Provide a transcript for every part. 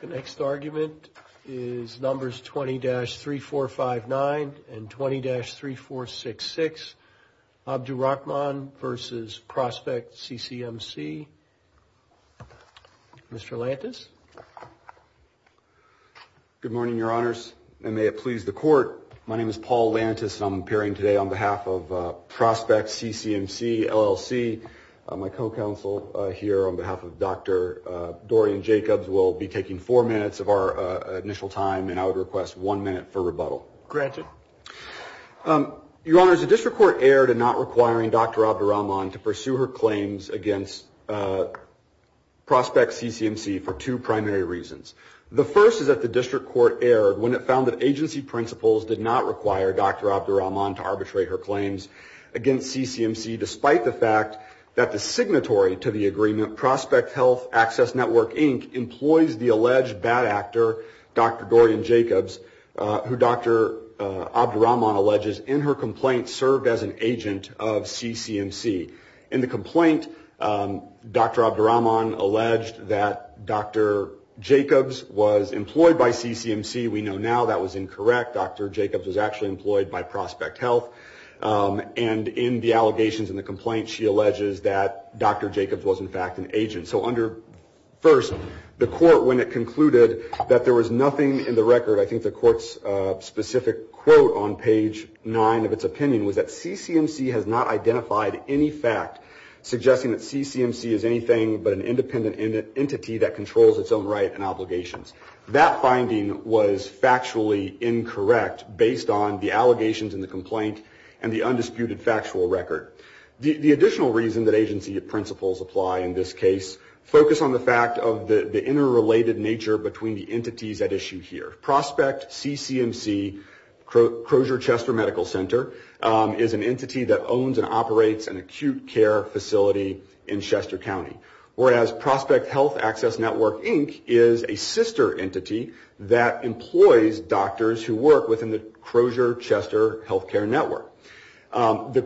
The next argument is numbers 20-3459 and 20-3466. This is Abdurahman v. Prospect CCM C. Mr. Lantis. Good morning, Your Honors, and may it please the Court. My name is Paul Lantis, and I'm appearing today on behalf of Prospect CCM C LLC. My co-counsel here on behalf of Dr. Dorian Jacobs will be taking four minutes of our initial time, Granted. Your Honors, the District Court erred in not requiring Dr. Abdurahman to pursue her claims against Prospect CCM C for two primary reasons. The first is that the District Court erred when it found that agency principles did not require Dr. Abdurahman to arbitrate her claims against CCM C, despite the fact that the signatory to the agreement, Prospect Health Access Network, Inc., employs the alleged bad actor, Dr. Dorian Jacobs, who Dr. Abdurahman alleges in her complaint served as an agent of CCM C. In the complaint, Dr. Abdurahman alleged that Dr. Jacobs was employed by CCM C. We know now that was incorrect. Dr. Jacobs was actually employed by Prospect Health. And in the allegations in the complaint, she alleges that Dr. Jacobs was, in fact, an agent. So first, the court, when it concluded that there was nothing in the record, I think the court's specific quote on page nine of its opinion was that CCM C has not identified any fact suggesting that CCM C is anything but an independent entity that controls its own right and obligations. That finding was factually incorrect based on the allegations in the complaint and the undisputed factual record. The additional reason that agency principles apply in this case focus on the fact of the interrelated nature between the entities at issue here. Prospect CCM C, Crozier Chester Medical Center, is an entity that owns and operates an acute care facility in Chester County. Whereas Prospect Health Access Network Inc. is a sister entity that employs doctors who work within the Crozier Chester Healthcare Network. The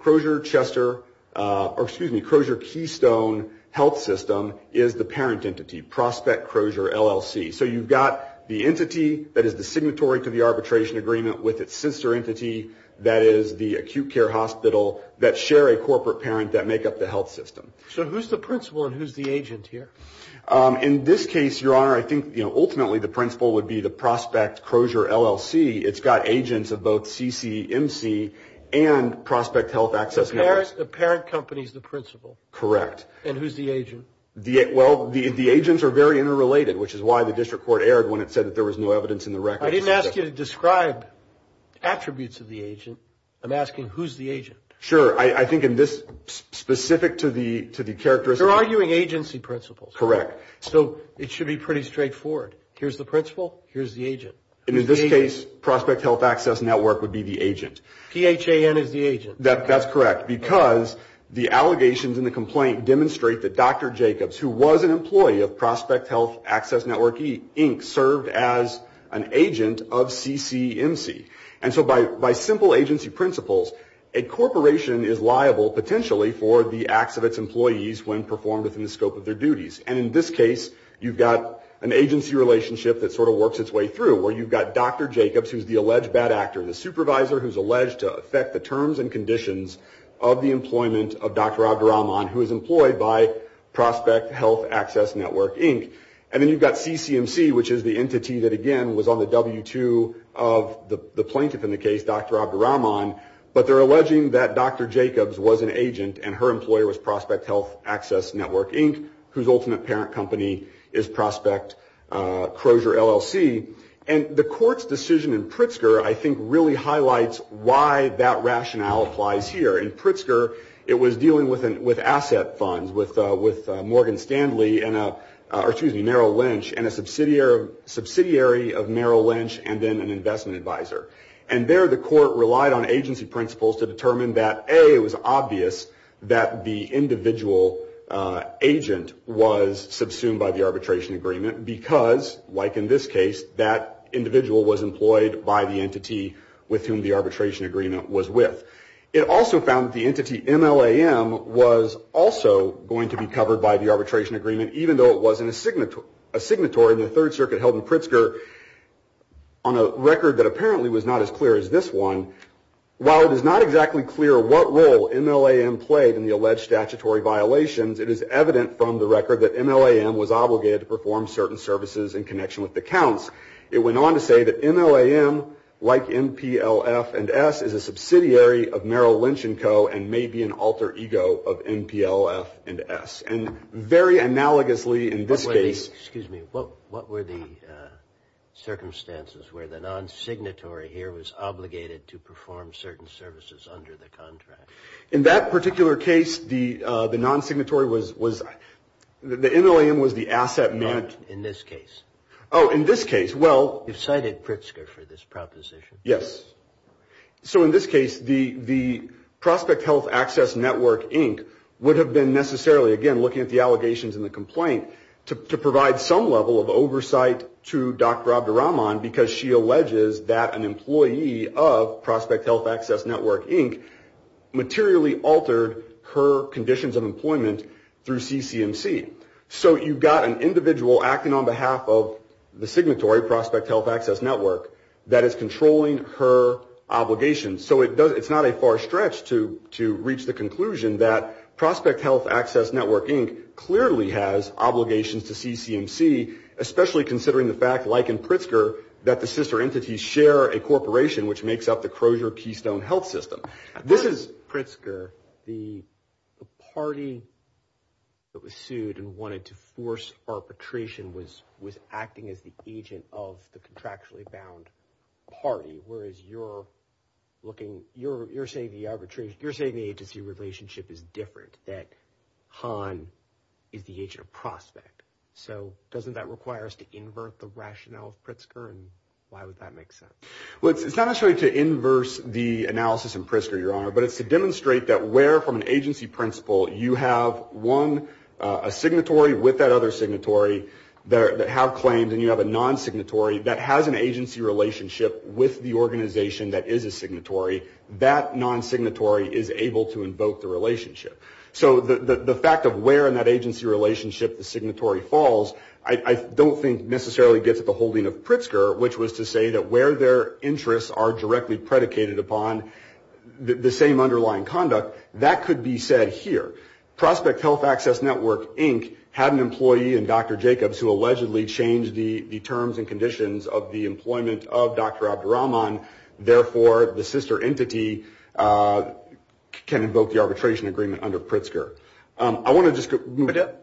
Crozier Chester, or excuse me, Crozier Keystone Health System is the parent entity, Prospect Crozier LLC. So you've got the entity that is the signatory to the arbitration agreement with its sister entity, that is the acute care hospital, that share a corporate parent that make up the health system. So who's the principal and who's the agent here? In this case, Your Honor, I think ultimately the principal would be the Prospect Crozier LLC. It's got agents of both CCM C and Prospect Health Access Network. The parent company is the principal. Correct. And who's the agent? Well, the agents are very interrelated, which is why the district court erred when it said that there was no evidence in the record. I didn't ask you to describe attributes of the agent. I'm asking who's the agent. Sure. I think in this specific to the characteristics. You're arguing agency principles. Correct. So it should be pretty straightforward. Here's the principal. Here's the agent. And in this case, Prospect Health Access Network would be the agent. PHAN is the agent. That's correct. Because the allegations in the complaint demonstrate that Dr. Jacobs, who was an employee of Prospect Health Access Network, Inc., served as an agent of CCM C. And so by simple agency principles, a corporation is liable, potentially, for the acts of its employees when performed within the scope of their duties. And in this case, you've got an agency relationship that sort of works its way through, where you've got Dr. Jacobs, who's the alleged bad actor, the supervisor who's alleged to affect the terms and conditions of the employment of Dr. Abdirahman, who is employed by Prospect Health Access Network, Inc. And then you've got CCM C, which is the entity that, again, was on the W-2 of the plaintiff in the case, Dr. Abdirahman. But they're alleging that Dr. Jacobs was an agent and her employer was Prospect Health Access Network, Inc., whose ultimate parent company is Prospect Crozier, LLC. And the court's decision in Pritzker, I think, really highlights why that rationale applies here. In Pritzker, it was dealing with asset funds, with Morgan Stanley and Merrill Lynch and a subsidiary of Merrill Lynch and then an investment advisor. And there the court relied on agency principles to determine that, A, it was obvious that the individual agent was subsumed by the arbitration agreement because, like in this case, that individual was employed by the entity with whom the arbitration agreement was with. It also found that the entity MLAM was also going to be covered by the arbitration agreement, even though it was a signatory in the Third Circuit held in Pritzker on a record that apparently was not as clear as this one. While it is not exactly clear what role MLAM played in the alleged statutory violations, it is evident from the record that MLAM was obligated to perform certain services in connection with the counts. It went on to say that MLAM, like MPLF and S, is a subsidiary of Merrill Lynch & Co. and may be an alter ego of MPLF and S. And very analogously in this case... Excuse me. What were the circumstances where the non-signatory here was obligated to perform certain services under the contract? In that particular case, the non-signatory was... The MLAM was the asset manager... In this case. Oh, in this case. Well... You've cited Pritzker for this proposition. Yes. So in this case, the Prospect Health Access Network, Inc. would have been necessarily, again, looking at the allegations in the complaint, to provide some level of oversight to Dr. Abdirahman because she alleges that an employee of Prospect Health Access Network, Inc. materially altered her conditions of employment through CCMC. So you've got an individual acting on behalf of the signatory, Prospect Health Access Network, that is controlling her obligations. So it's not a far stretch to reach the conclusion that Prospect Health Access Network, Inc. clearly has obligations to CCMC, especially considering the fact, like in Pritzker, that the sister entities share a corporation which makes up the Crozier Keystone Health System. This is Pritzker. The party that was sued and wanted to force arbitration was acting as the agent of the contractually bound party, whereas you're saying the agency relationship is different, that Hahn is the agent of Prospect. So doesn't that require us to invert the rationale of Pritzker, and why would that make sense? Well, it's not necessarily to inverse the analysis in Pritzker, Your Honor, but it's to demonstrate that where from an agency principle you have a signatory with that other signatory that have claims and you have a non-signatory that has an agency relationship with the organization that is a signatory, that non-signatory is able to invoke the relationship. So the fact of where in that agency relationship the signatory falls, I don't think necessarily gets at the holding of Pritzker, which was to say that where their interests are directly predicated upon the same underlying conduct. That could be said here. Prospect Health Access Network, Inc. had an employee in Dr. Jacobs who allegedly changed the terms and conditions of the employment of Dr. Abdur-Rahman. Therefore, the sister entity can invoke the arbitration agreement under Pritzker. I want to just go to Medea.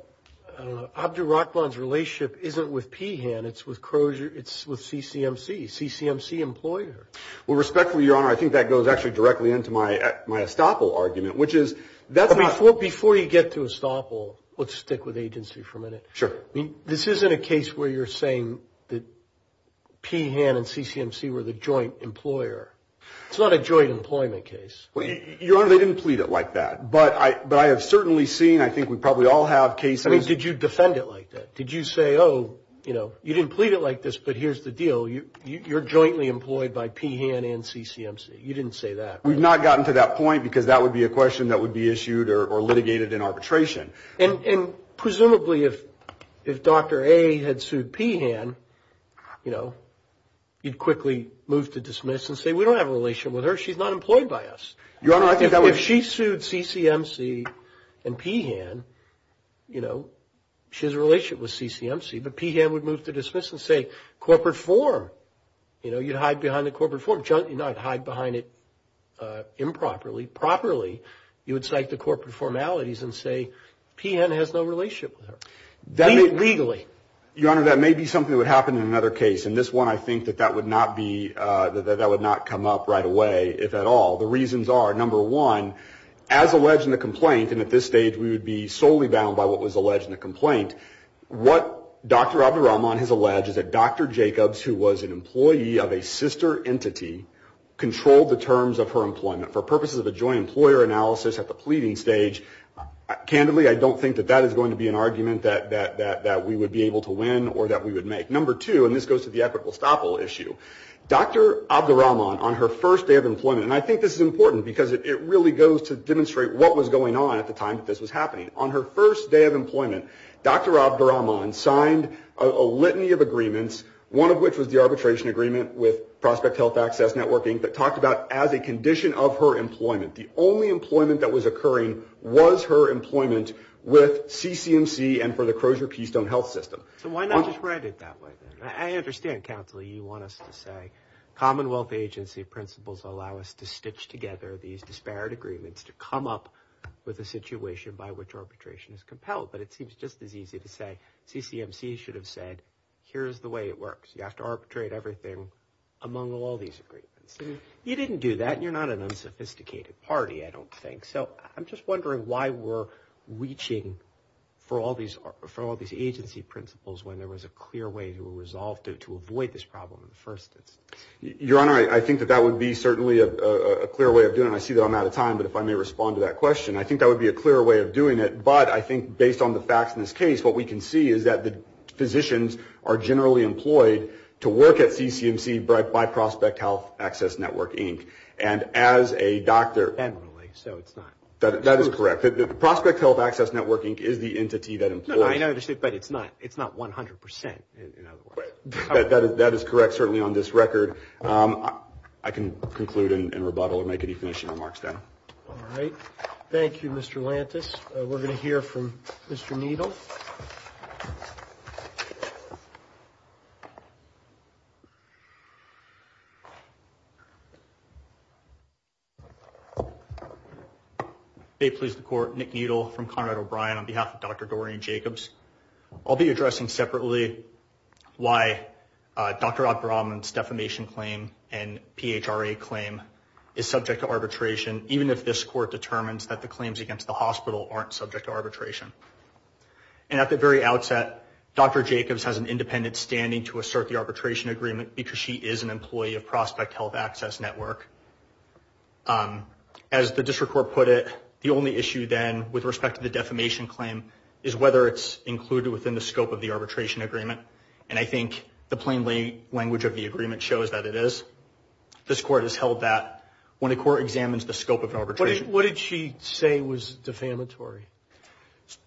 I don't know. Abdur-Rahman's relationship isn't with P-Han. It's with CCMC, CCMC employer. Well, respectfully, Your Honor, I think that goes actually directly into my estoppel argument, which is that's not – Before you get to estoppel, let's stick with agency for a minute. Sure. This isn't a case where you're saying that P-Han and CCMC were the joint employer. It's not a joint employment case. Your Honor, they didn't plead it like that, but I have certainly seen – I think we probably all have cases. I mean, did you defend it like that? Did you say, oh, you know, you didn't plead it like this, but here's the deal. You're jointly employed by P-Han and CCMC. You didn't say that. We've not gotten to that point because that would be a question that would be issued or litigated in arbitration. And presumably if Dr. A had sued P-Han, you know, you'd quickly move to dismiss and say we don't have a relation with her. She's not employed by us. Your Honor, I think that would – If she sued CCMC and P-Han, you know, she has a relationship with CCMC, but P-Han would move to dismiss and say corporate form, you know, you'd hide behind the corporate form. You know, I'd hide behind it improperly. Properly, you would cite the corporate formalities and say P-Han has no relationship with her, legally. Your Honor, that may be something that would happen in another case, and this one I think that that would not be – that that would not come up right away, if at all. The reasons are, number one, as alleged in the complaint, and at this stage we would be solely bound by what was alleged in the complaint, what Dr. Abdur-Rahman has alleged is that Dr. Jacobs, who was an employee of a sister entity, controlled the terms of her employment for purposes of a joint employer analysis at the pleading stage. Candidly, I don't think that that is going to be an argument that we would be able to win or that we would make. Number two, and this goes to the equitable estoppel issue, Dr. Abdur-Rahman, on her first day of employment, and I think this is important because it really goes to demonstrate what was going on at the time that this was happening. On her first day of employment, Dr. Abdur-Rahman signed a litany of agreements, one of which was the arbitration agreement with Prospect Health Access Networking that talked about as a condition of her employment, the only employment that was occurring was her employment with CCMC and for the Crosier Keystone Health System. So why not just write it that way then? I understand, Counselor, you want us to say Commonwealth agency principles allow us to stitch together these disparate agreements to come up with a situation by which arbitration is compelled, but it seems just as easy to say CCMC should have said, here's the way it works. You have to arbitrate everything among all these agreements. You didn't do that and you're not an unsophisticated party, I don't think. So I'm just wondering why we're reaching for all these agency principles when there was a clear way to resolve to avoid this problem at first. Your Honor, I think that that would be certainly a clear way of doing it. I see that I'm out of time, but if I may respond to that question. I think that would be a clear way of doing it, but I think based on the facts in this case, what we can see is that the physicians are generally employed to work at CCMC by Prospect Health Access Network, Inc., and as a doctor. Generally, so it's not. That is correct. Prospect Health Access Network, Inc. is the entity that employs. I understand, but it's not 100%, in other words. That is correct, certainly on this record. I can conclude and rebuttal and make any finishing remarks then. All right. Thank you, Mr. Lantus. We're going to hear from Mr. Needle. May it please the Court. Nick Needle from Conrad O'Brien on behalf of Dr. Doreen Jacobs. I'll be addressing separately why Dr. Abdur-Rahman's defamation claim and PHRA claim is subject to arbitration, even if this Court determines that the claims against the hospital aren't subject to arbitration. And at the very outset, Dr. Jacobs has an independent standing to assert the arbitration agreement because she is an employee of Prospect Health Access Network. As the district court put it, the only issue then with respect to the defamation claim is whether it's included within the scope of the arbitration agreement, and I think the plain language of the agreement shows that it is. This Court has held that when a court examines the scope of arbitration. What did she say was defamatory?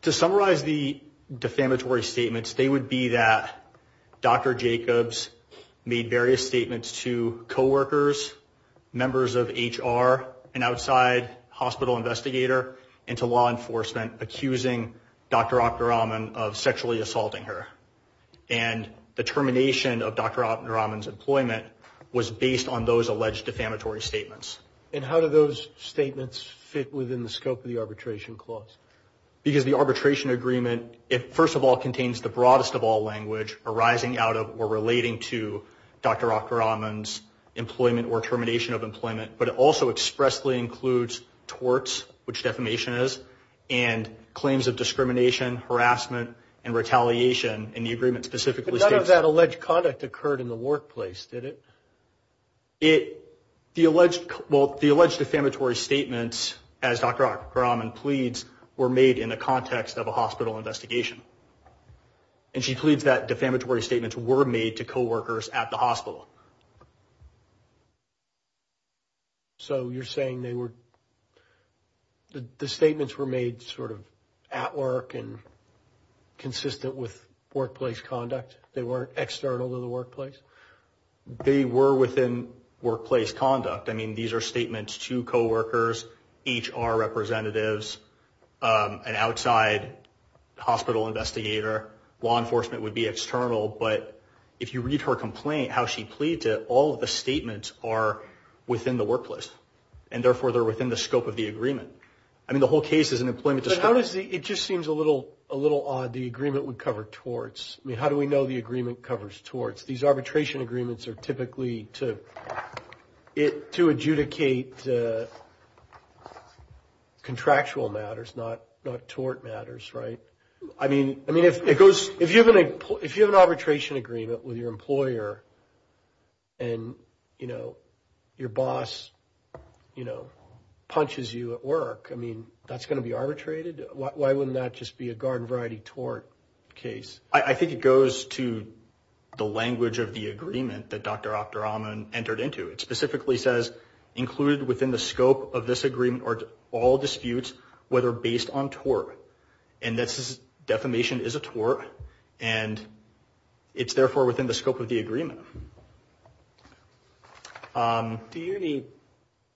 To summarize the defamatory statements, they would be that Dr. Jacobs made various statements to coworkers, members of HR, an outside hospital investigator, and to law enforcement accusing Dr. Abdur-Rahman of sexually assaulting her. And the termination of Dr. Abdur-Rahman's employment was based on those alleged defamatory statements. And how do those statements fit within the scope of the arbitration clause? Because the arbitration agreement, it first of all contains the broadest of all language arising out of or relating to Dr. Abdur-Rahman's employment or termination of employment, but it also expressly includes torts, which defamation is, and claims of discrimination, harassment, and retaliation, and the agreement specifically states that. But none of that alleged conduct occurred in the workplace, did it? It, the alleged, well, the alleged defamatory statements, as Dr. Abdur-Rahman pleads, were made in the context of a hospital investigation. And she pleads that defamatory statements were made to coworkers at the hospital. So you're saying they were, the statements were made sort of at work and consistent with workplace conduct? They weren't external to the workplace? They were within workplace conduct. I mean, these are statements to coworkers, HR representatives, an outside hospital investigator. Law enforcement would be external, but if you read her complaint, how she pleads it, all of the statements are within the workplace, and therefore they're within the scope of the agreement. I mean, the whole case is an employment dispute. But how does the, it just seems a little odd, the agreement would cover torts. I mean, how do we know the agreement covers torts? These arbitration agreements are typically to adjudicate contractual matters, not tort matters, right? I mean, if you have an arbitration agreement with your employer, and, you know, your boss, you know, punches you at work, I mean, that's going to be arbitrated? Why wouldn't that just be a garden variety tort case? I think it goes to the language of the agreement that Dr. Opperon entered into. It specifically says, included within the scope of this agreement are all disputes whether based on tort, and this defamation is a tort, and it's therefore within the scope of the agreement. Do you need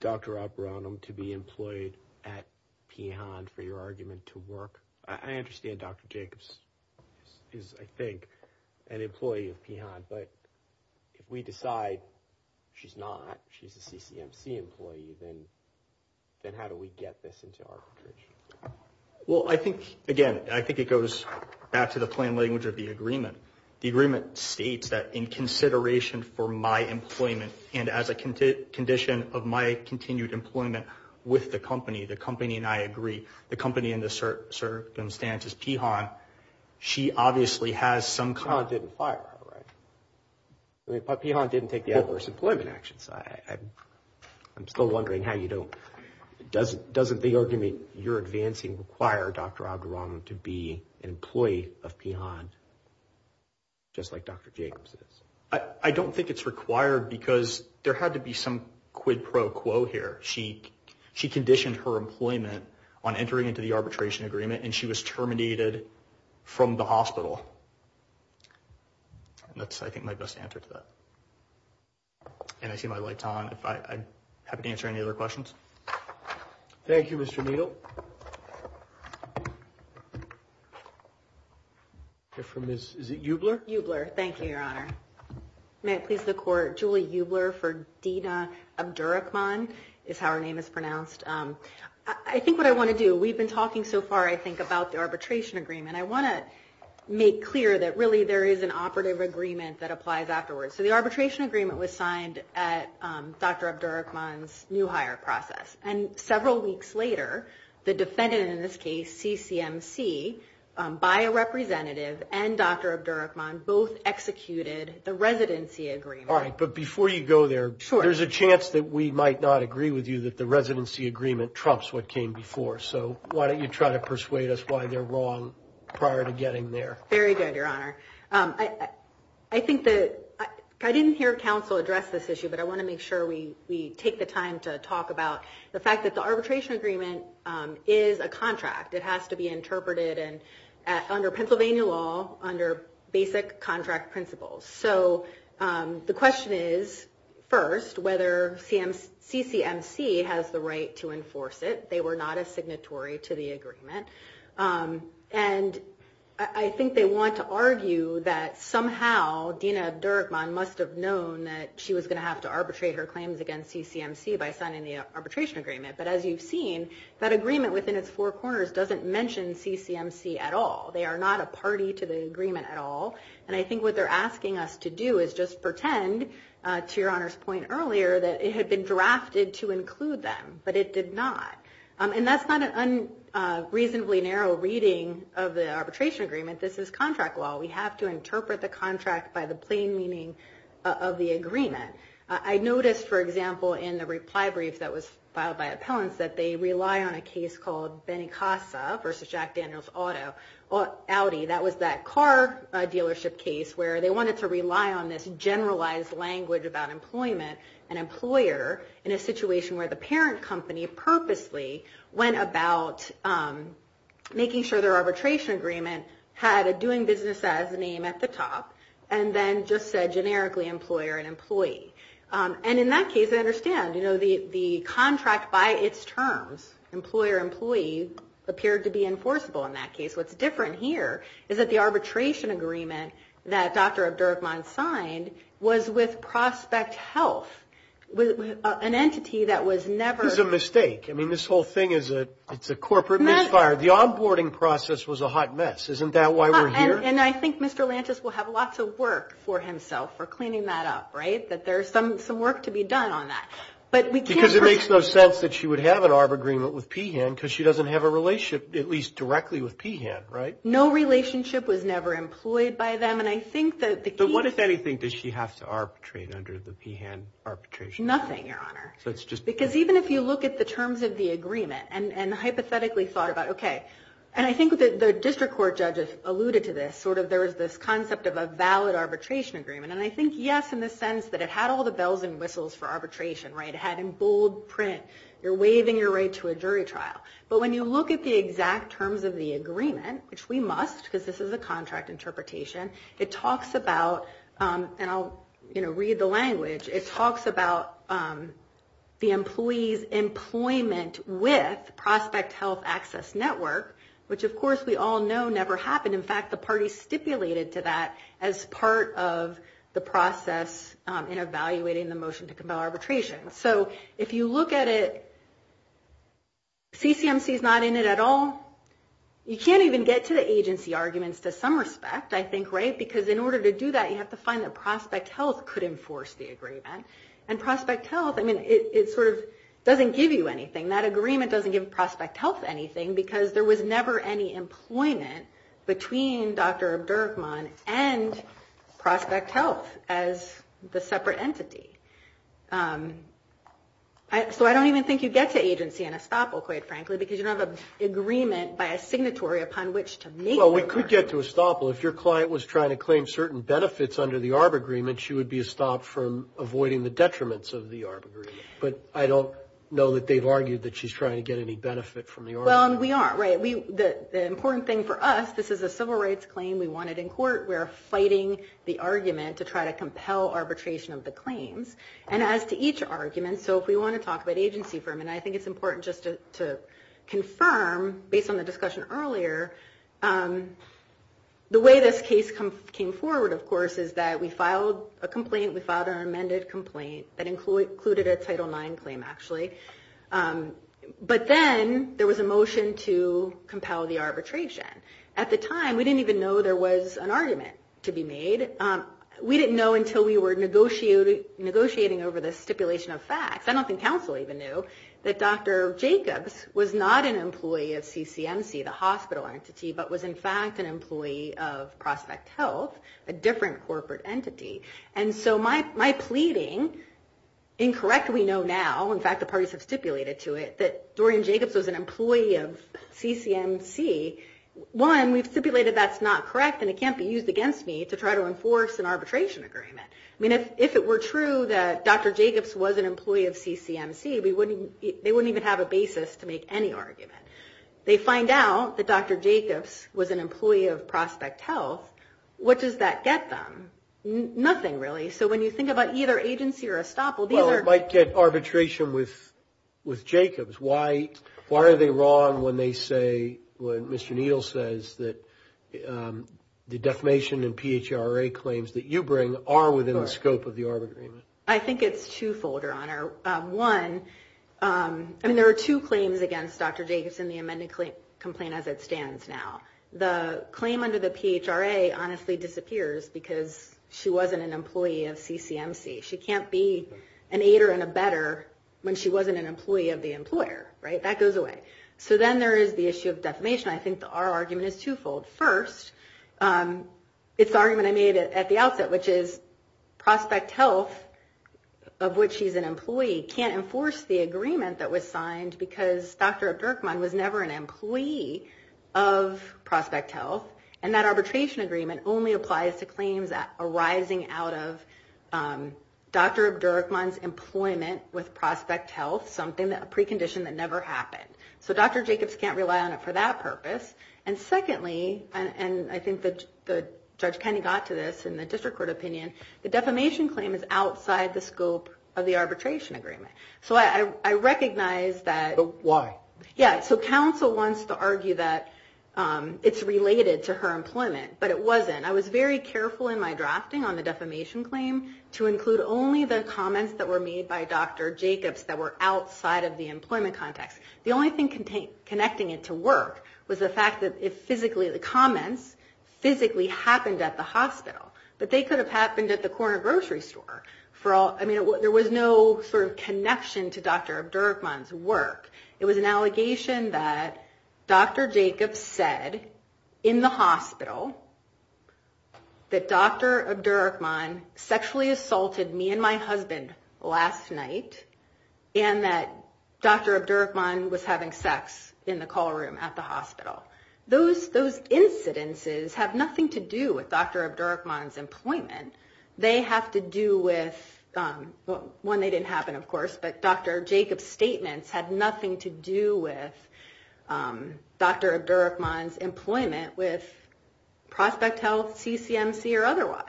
Dr. Opperon to be employed at Pehon for your argument to work? I understand Dr. Jacobs is, I think, an employee of Pehon, but if we decide she's not, she's a CCMC employee, then how do we get this into arbitration? Well, I think, again, I think it goes back to the plain language of the agreement. The agreement states that in consideration for my employment and as a condition of my continued employment with the company, the company and I agree, the company in this circumstance is Pehon, she obviously has some kind of... Pehon didn't fire her, right? Pehon didn't take the adverse employment actions. I'm still wondering how you don't, doesn't the argument you're advancing require Dr. Opperon to be an employee of Pehon, just like Dr. Jacobs is? I don't think it's required because there had to be some quid pro quo here. She conditioned her employment on entering into the arbitration agreement and she was terminated from the hospital. That's, I think, my best answer to that. And I see my light's on. I'm happy to answer any other questions. Thank you, Mr. Needle. Is it Eubler? Eubler, thank you, Your Honor. May it please the Court, Julie Eubler for Dina Abdurakhman is how her name is pronounced. I think what I want to do, we've been talking so far, I think, about the arbitration agreement. I want to make clear that really there is an operative agreement that applies afterwards. So the arbitration agreement was signed at Dr. Abdurakhman's new hire process and several weeks later, the defendant in this case, CCMC, by a representative and Dr. Abdurakhman both executed the residency agreement. All right, but before you go there, there's a chance that we might not agree with you that the residency agreement trumps what came before. So why don't you try to persuade us why they're wrong prior to getting there? Very good, Your Honor. I think that I didn't hear counsel address this issue, but I want to make sure we take the time to talk about the fact that the arbitration agreement is a contract. It has to be interpreted under Pennsylvania law under basic contract principles. So the question is, first, whether CCMC has the right to enforce it. They were not a signatory to the agreement. And I think they want to argue that somehow Dina Abdurakhman must have known that she was going to have to arbitrate her claims against CCMC by signing the arbitration agreement. But as you've seen, that agreement within its four corners doesn't mention CCMC at all. They are not a party to the agreement at all. And I think what they're asking us to do is just pretend, to Your Honor's point earlier, that it had been drafted to include them, but it did not. And that's not an unreasonably narrow reading of the arbitration agreement. This is contract law. I noticed, for example, in the reply brief that was filed by appellants, that they rely on a case called Benicasa versus Jack Daniels Audi. That was that car dealership case where they wanted to rely on this generalized language about employment and employer in a situation where the parent company purposely went about making sure their arbitration agreement had a doing business as a name at the top and then just said generically employer and employee. And in that case, I understand. You know, the contract by its terms, employer, employee, appeared to be enforceable in that case. What's different here is that the arbitration agreement that Dr. Abdurakhman signed was with Prospect Health, an entity that was never. This is a mistake. I mean, this whole thing is a corporate misfire. The onboarding process was a hot mess. Isn't that why we're here? And I think Mr. Lantus will have lots of work for himself for cleaning that up, right, that there's some work to be done on that. But we can't. Because it makes no sense that she would have an arb agreement with PHAN because she doesn't have a relationship, at least directly with PHAN, right? No relationship was never employed by them. And I think that the key. But what, if anything, does she have to arbitrate under the PHAN arbitration agreement? Nothing, Your Honor. So it's just because. Because even if you look at the terms of the agreement and hypothetically thought about, OK, and I think the district court judges alluded to this, sort of there is this concept of a valid arbitration agreement. And I think, yes, in the sense that it had all the bells and whistles for arbitration, right? It had in bold print, you're waiving your right to a jury trial. But when you look at the exact terms of the agreement, which we must because this is a contract interpretation, it talks about, and I'll read the language, it talks about the employee's employment with Prospect Health Access Network, which, of course, we all know never happened. In fact, the party stipulated to that as part of the process in evaluating the motion to compel arbitration. So if you look at it, CCMC is not in it at all. You can't even get to the agency arguments to some respect. I think, right? Because in order to do that, you have to find that Prospect Health could enforce the agreement. And Prospect Health, I mean, it sort of doesn't give you anything. That agreement doesn't give Prospect Health anything because there was never any employment between Dr. Abdurrahman and Prospect Health as the separate entity. So I don't even think you get to agency in Estoppel, quite frankly, because you don't have an agreement by a signatory upon which to make. Well, we could get to Estoppel. If your client was trying to claim certain benefits under the ARB agreement, she would be stopped from avoiding the detriments of the ARB agreement. But I don't know that they've argued that she's trying to get any benefit from the ARB. Well, and we aren't, right? The important thing for us, this is a civil rights claim. We want it in court. We are fighting the argument to try to compel arbitration of the claims. And as to each argument, so if we want to talk about agency for a minute, I think it's important just to confirm, based on the discussion earlier, the way this case came forward, of course, is that we filed a complaint. We filed an amended complaint that included a Title IX claim, actually. But then there was a motion to compel the arbitration. At the time, we didn't even know there was an argument to be made. We didn't know until we were negotiating over the stipulation of facts. I don't think counsel even knew that Dr. Jacobs was not an employee of CCMC, the hospital entity, but was, in fact, an employee of Prospect Health, a different corporate entity. And so my pleading, incorrect we know now, in fact, the parties have stipulated to it, that Dorian Jacobs was an employee of CCMC, one, we've stipulated that's not correct and it can't be used against me to try to enforce an arbitration agreement. I mean, if it were true that Dr. Jacobs was an employee of CCMC, they wouldn't even have a basis to make any argument. They find out that Dr. Jacobs was an employee of Prospect Health, what does that get them? Nothing, really. So when you think about either agency or estoppel, these are... Well, it might get arbitration with Jacobs. Why are they wrong when they say, when Mr. Needle says that the defamation and PHRA claims that you bring are within the scope of the arbitration? I think it's twofold, Your Honor. One, and there are two claims against Dr. Jacobs in the amended complaint as it stands now. The claim under the PHRA honestly disappears because she wasn't an employee of CCMC. She can't be an aider and a better when she wasn't an employee of the employer. That goes away. So then there is the issue of defamation. I think our argument is twofold. First, it's the argument I made at the outset, which is Prospect Health, of which she's an employee, can't enforce the agreement that was signed because Dr. Bergman was never an employee of Prospect Health, and that arbitration agreement only applies to claims arising out of Dr. Bergman's employment with Prospect Health, a precondition that never happened. So Dr. Jacobs can't rely on it for that purpose. And secondly, and I think Judge Kenney got to this in the district court opinion, the defamation claim is outside the scope of the arbitration agreement. So I recognize that... But why? Yeah, so counsel wants to argue that it's related to her employment, but it wasn't. I was very careful in my drafting on the defamation claim to include only the comments that were made by Dr. Jacobs that were outside of the employment context. The only thing connecting it to work was the fact that the comments physically happened at the hospital, but they could have happened at the corner grocery store. There was no connection to Dr. Bergman's work. It was an allegation that Dr. Jacobs said in the hospital that Dr. Bergman sexually assaulted me and my husband last night and that Dr. Bergman was having sex in the call room at the hospital. Those incidences have nothing to do with Dr. Bergman's employment. They have to do with... They have nothing to do with Dr. Bergman's employment with Prospect Health, CCMC, or otherwise.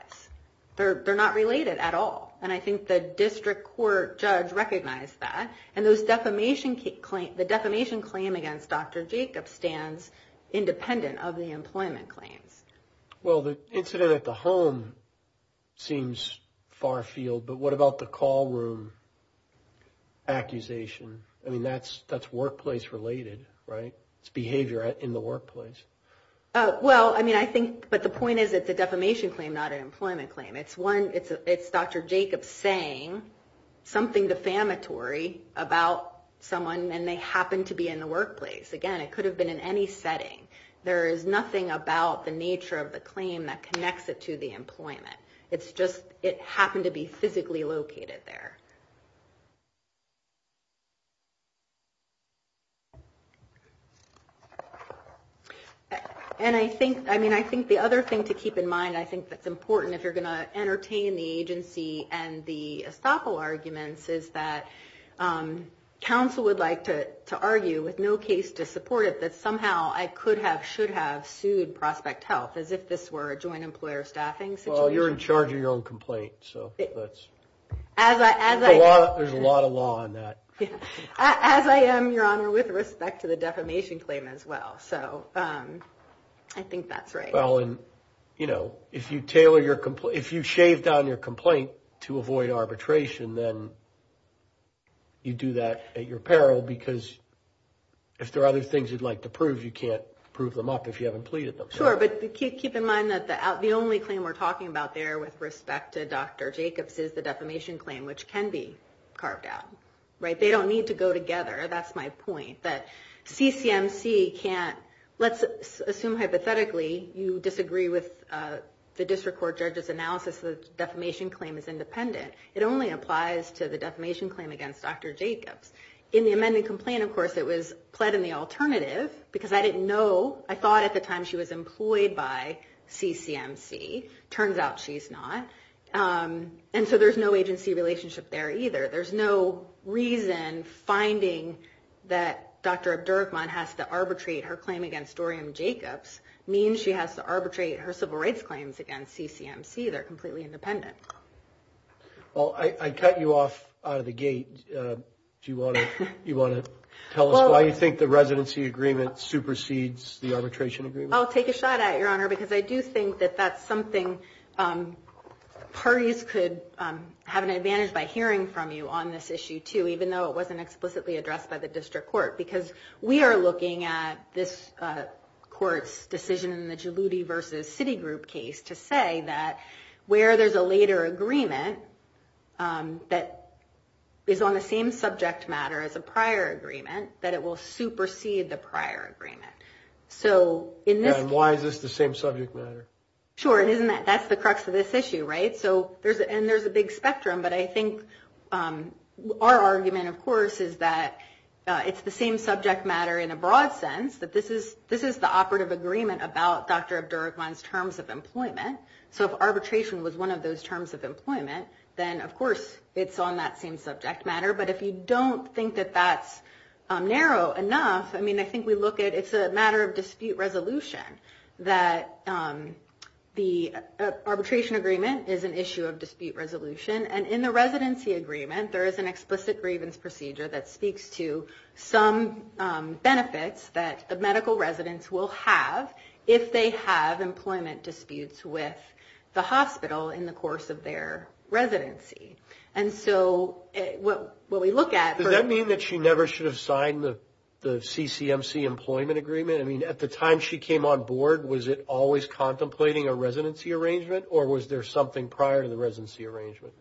They're not related at all, and I think the district court judge recognized that. And the defamation claim against Dr. Jacobs stands independent of the employment claims. Well, the incident at the home seems far-field, but what about the call room accusation? I mean, that's workplace-related, right? It's behavior in the workplace. Well, I mean, I think... But the point is it's a defamation claim, not an employment claim. It's one... It's Dr. Jacobs saying something defamatory about someone, and they happened to be in the workplace. Again, it could have been in any setting. There is nothing about the nature of the claim that connects it to the employment. It's just it happened to be physically located there. And I think... I mean, I think the other thing to keep in mind, I think that's important if you're going to entertain the agency and the estoppel arguments, is that counsel would like to argue, with no case to support it, that somehow I could have, should have sued Prospect Health, as if this were a joint employer-staffing situation. Well, you're in charge of your own complaint, so that's... As I... There's a lot of law on that. As I am, Your Honor, with respect to the defamation claim as well. So I think that's right. Well, and, you know, if you tailor your... If you shave down your complaint to avoid arbitration, then you do that at your peril, because if there are other things you'd like to prove, you can't prove them up if you haven't pleaded them. Sure, but keep in mind that the only claim we're talking about there, with respect to Dr. Jacobs, is the defamation claim, which can be carved out, right? They don't need to go together. That's my point, that CCMC can't... Let's assume, hypothetically, you disagree with the district court judge's analysis that the defamation claim is independent. It only applies to the defamation claim against Dr. Jacobs. In the amended complaint, of course, it was pled in the alternative, because I didn't know... I thought at the time she was employed by CCMC. Turns out she's not. And so there's no agency relationship there either. There's no reason finding that Dr. Abdurrahman has to arbitrate her claim against Dorian Jacobs means she has to arbitrate her civil rights claims against CCMC. They're completely independent. Well, I cut you off out of the gate. Do you want to tell us why you think the residency agreement I'll take a shot at it, Your Honor, because I do think that that's something parties could have an advantage by hearing from you on this issue too, even though it wasn't explicitly addressed by the district court. Because we are looking at this court's decision in the Jaluti v. Citigroup case to say that where there's a later agreement that is on the same subject matter as a prior agreement, that it will supersede the prior agreement. And why is this the same subject matter? Sure, and that's the crux of this issue, right? And there's a big spectrum. But I think our argument, of course, is that it's the same subject matter in a broad sense, that this is the operative agreement about Dr. Abdurrahman's terms of employment. So if arbitration was one of those terms of employment, then, of course, it's on that same subject matter. But if you don't think that that's narrow enough, I mean, I think we look at it's a matter of dispute resolution, that the arbitration agreement is an issue of dispute resolution. And in the residency agreement, there is an explicit grievance procedure that speaks to some benefits that the medical residents will have if they have employment disputes with the hospital in the course of their residency. And so what we look at... Does that mean that she never should have signed the CCMC employment agreement? I mean, at the time she came on board, was it always contemplating a residency arrangement, or was there something prior to the residency arrangement?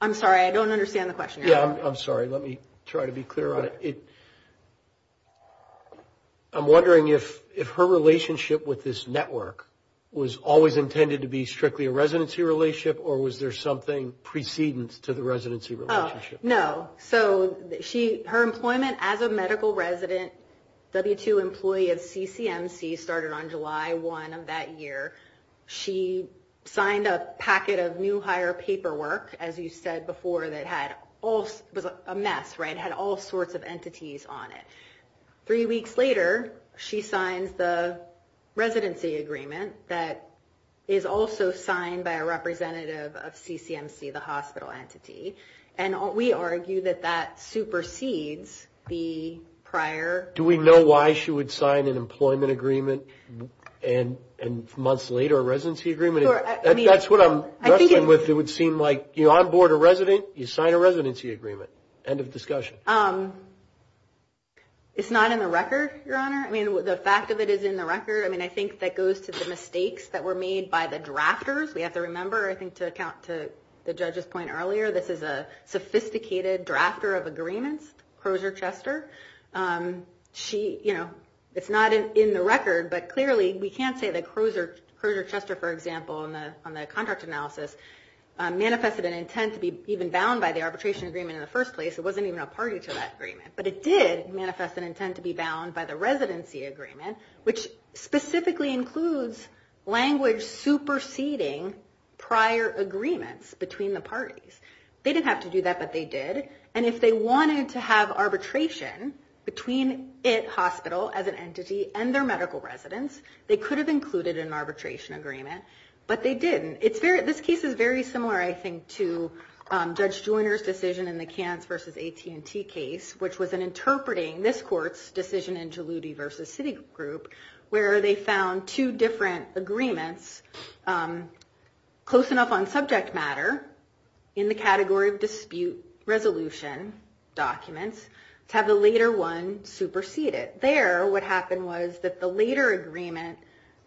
I'm sorry, I don't understand the question. Yeah, I'm sorry. Let me try to be clear on it. I'm wondering if her relationship with this network was always intended to be strictly a residency relationship, or was there something precedence to the residency relationship? No. So her employment as a medical resident, W-2 employee of CCMC, started on July 1 of that year. She signed a packet of new hire paperwork, as you said before, that was a mess, right? It had all sorts of entities on it. Three weeks later, she signs the residency agreement that is also signed by a representative of CCMC, the hospital entity. And we argue that that supersedes the prior... Do we know why she would sign an employment agreement and months later a residency agreement? That's what I'm wrestling with. It would seem like you're on board a resident, you sign a residency agreement. End of discussion. It's not in the record, Your Honor. I mean, the fact of it is in the record. I mean, I think that goes to the mistakes that were made by the drafters. We have to remember, I think to account to the judge's point earlier, this is a sophisticated drafter of agreements, Crozer-Chester. It's not in the record, but clearly we can't say that Crozer-Chester, for example, on the contract analysis, manifested an intent to be even bound by the arbitration agreement in the first place. It wasn't even a party to that agreement. But it did manifest an intent to be bound by the residency agreement, which specifically includes language superseding prior agreements between the parties. They didn't have to do that, but they did. And if they wanted to have arbitration between IT Hospital as an entity and their medical residents, they could have included an arbitration agreement, but they didn't. This case is very similar, I think, to Judge Joyner's decision in the Kans versus AT&T case, which was an interpreting, this court's decision in Jaloudi versus Citigroup, where they found two different agreements close enough on subject matter in the category of dispute resolution documents to have the later one superseded. There, what happened was that the later agreement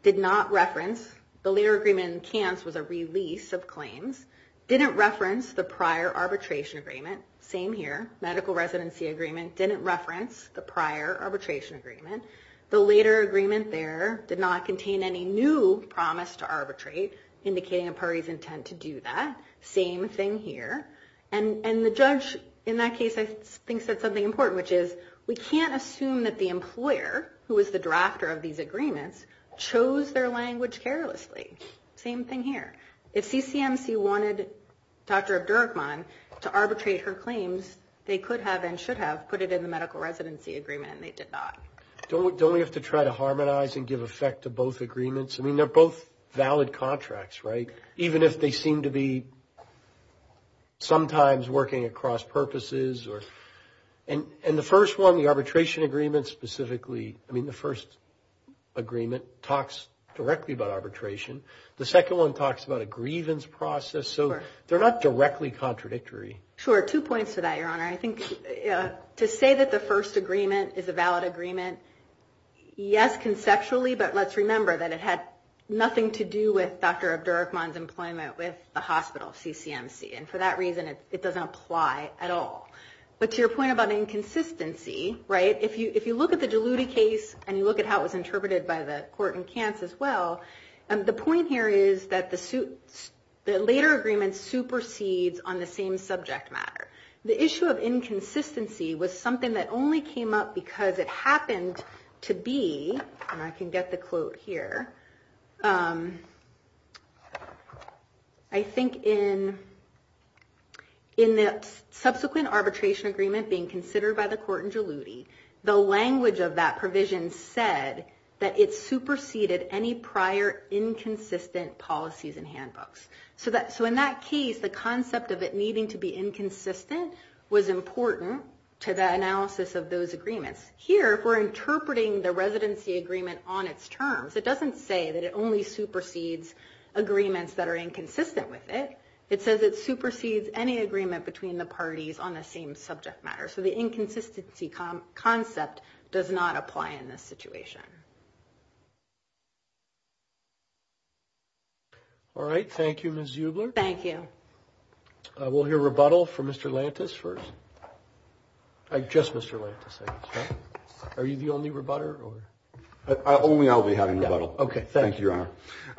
did not reference, the later agreement in Kans was a release of claims, didn't reference the prior arbitration agreement, same here, medical residency agreement, didn't reference the prior arbitration agreement. The later agreement there did not contain any new promise to arbitrate, indicating a party's intent to do that, same thing here. And the judge in that case, I think, said something important, which is we can't assume that the employer, who is the drafter of these agreements, chose their language carelessly. Same thing here. They could have and should have put it in the medical residency agreement, and they did not. Don't we have to try to harmonize and give effect to both agreements? I mean, they're both valid contracts, right, even if they seem to be sometimes working at cross-purposes. And the first one, the arbitration agreement specifically, I mean, the first agreement talks directly about arbitration. The second one talks about a grievance process. So they're not directly contradictory. Sure. Two points to that, Your Honor. I think to say that the first agreement is a valid agreement, yes, conceptually, but let's remember that it had nothing to do with Dr. Abdur-Rahman's employment with the hospital, CCMC, and for that reason it doesn't apply at all. But to your point about inconsistency, right, if you look at the Jaloudi case and you look at how it was interpreted by the court in Cairns as well, the point here is that the later agreement supersedes on the same subject matter. The issue of inconsistency was something that only came up because it happened to be, and I can get the quote here, I think in the subsequent arbitration agreement being considered by the court in Jaloudi, the language of that provision said that it superseded any prior inconsistent policies and handbooks. So in that case, the concept of it needing to be inconsistent was important to the analysis of those agreements. Here, if we're interpreting the residency agreement on its terms, it doesn't say that it only supersedes agreements that are inconsistent with it. It says it supersedes any agreement between the parties on the same subject matter. So the inconsistency concept does not apply in this situation. All right, thank you, Ms. Zubler. Thank you. We'll hear rebuttal from Mr. Lantis first. Just Mr. Lantis, I guess, right? Are you the only rebutter? Only I'll be having rebuttal. Okay, thank you. Thank you, Your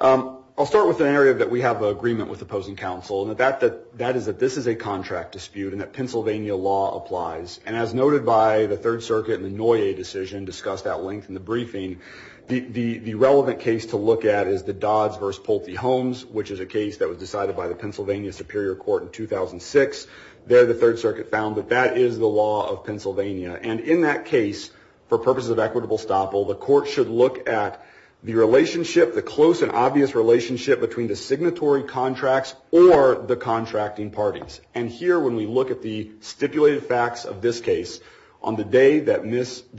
Honor. I'll start with an area that we have an agreement with opposing counsel, and that is that this is a contract dispute and that Pennsylvania law applies. And as noted by the Third Circuit in the Noye decision, discussed at length in the briefing, the relevant case to look at is the Dodds v. Poltey-Holmes, which is a case that was decided by the Pennsylvania Superior Court in 2006. There, the Third Circuit found that that is the law of Pennsylvania. And in that case, for purposes of equitable estoppel, the court should look at the relationship, the close and obvious relationship between the signatory contracts or the contracting parties. And here, when we look at the stipulated facts of this case, on the day that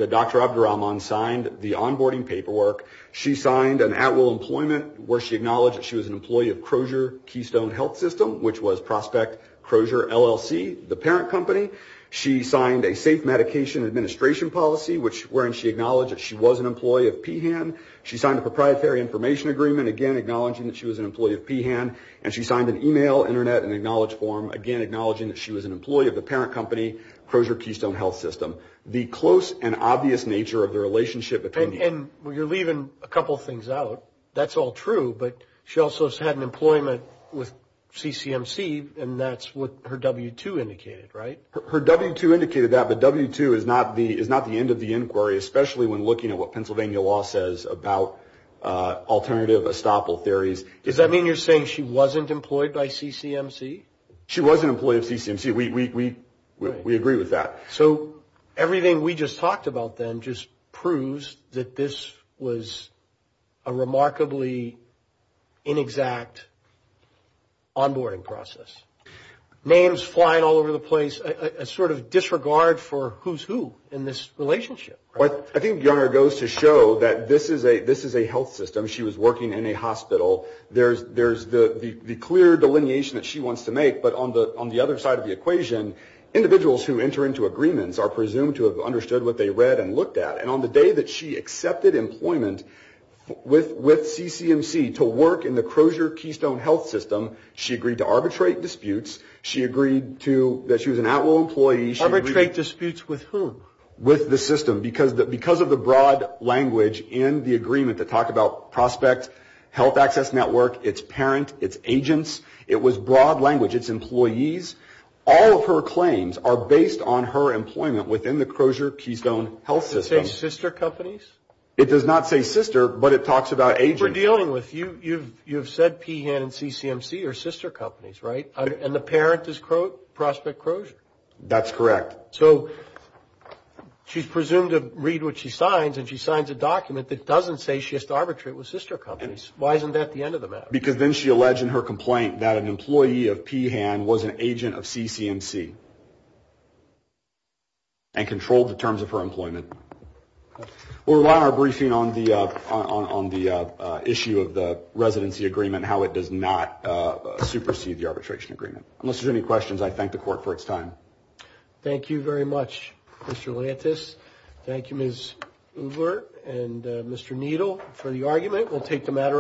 Dr. Abdur-Rahman signed the onboarding paperwork, she signed an at-will employment where she acknowledged that she was an employee of Crozier Keystone Health System, which was Prospect Crozier LLC, the parent company. She signed a safe medication administration policy, wherein she acknowledged that she was an employee of PHAN. She signed a proprietary information agreement, again, acknowledging that she was an employee of PHAN. And she signed an e-mail, Internet, and Acknowledge form, again, acknowledging that she was an employee of the parent company, Crozier Keystone Health System. The close and obvious nature of the relationship between the two. And you're leaving a couple things out. That's all true, but she also has had an employment with CCMC, and that's what her W-2 indicated, right? Her W-2 indicated that, but W-2 is not the end of the inquiry, especially when looking at what Pennsylvania law says about alternative estoppel theories. Does that mean you're saying she wasn't employed by CCMC? She was an employee of CCMC. We agree with that. So everything we just talked about then just proves that this was a remarkably inexact onboarding process. Names flying all over the place, a sort of disregard for who's who in this relationship. I think Younger goes to show that this is a health system. She was working in a hospital. There's the clear delineation that she wants to make, but on the other side of the equation, individuals who enter into agreements are presumed to have understood what they read and looked at. And on the day that she accepted employment with CCMC to work in the Crozier Keystone Health System, she agreed to arbitrate disputes. She agreed that she was an outlaw employee. Arbitrate disputes with whom? With the system. Because of the broad language in the agreement that talked about Prospect Health Access Network, its parent, its agents, it was broad language, its employees. All of her claims are based on her employment within the Crozier Keystone Health System. Does it say sister companies? It does not say sister, but it talks about agents. We're dealing with, you've said PHAN and CCMC are sister companies, right? And the parent is Prospect Crozier? That's correct. So she's presumed to read what she signs, and she signs a document that doesn't say she has to arbitrate with sister companies. Why isn't that the end of the matter? Because then she alleged in her complaint that an employee of PHAN was an agent of CCMC and controlled the terms of her employment. We'll rely on our briefing on the issue of the residency agreement, how it does not supersede the arbitration agreement. Unless there's any questions, I thank the Court for its time. Thank you very much, Mr. Lantis. Thank you, Ms. Udler and Mr. Needle, for the argument.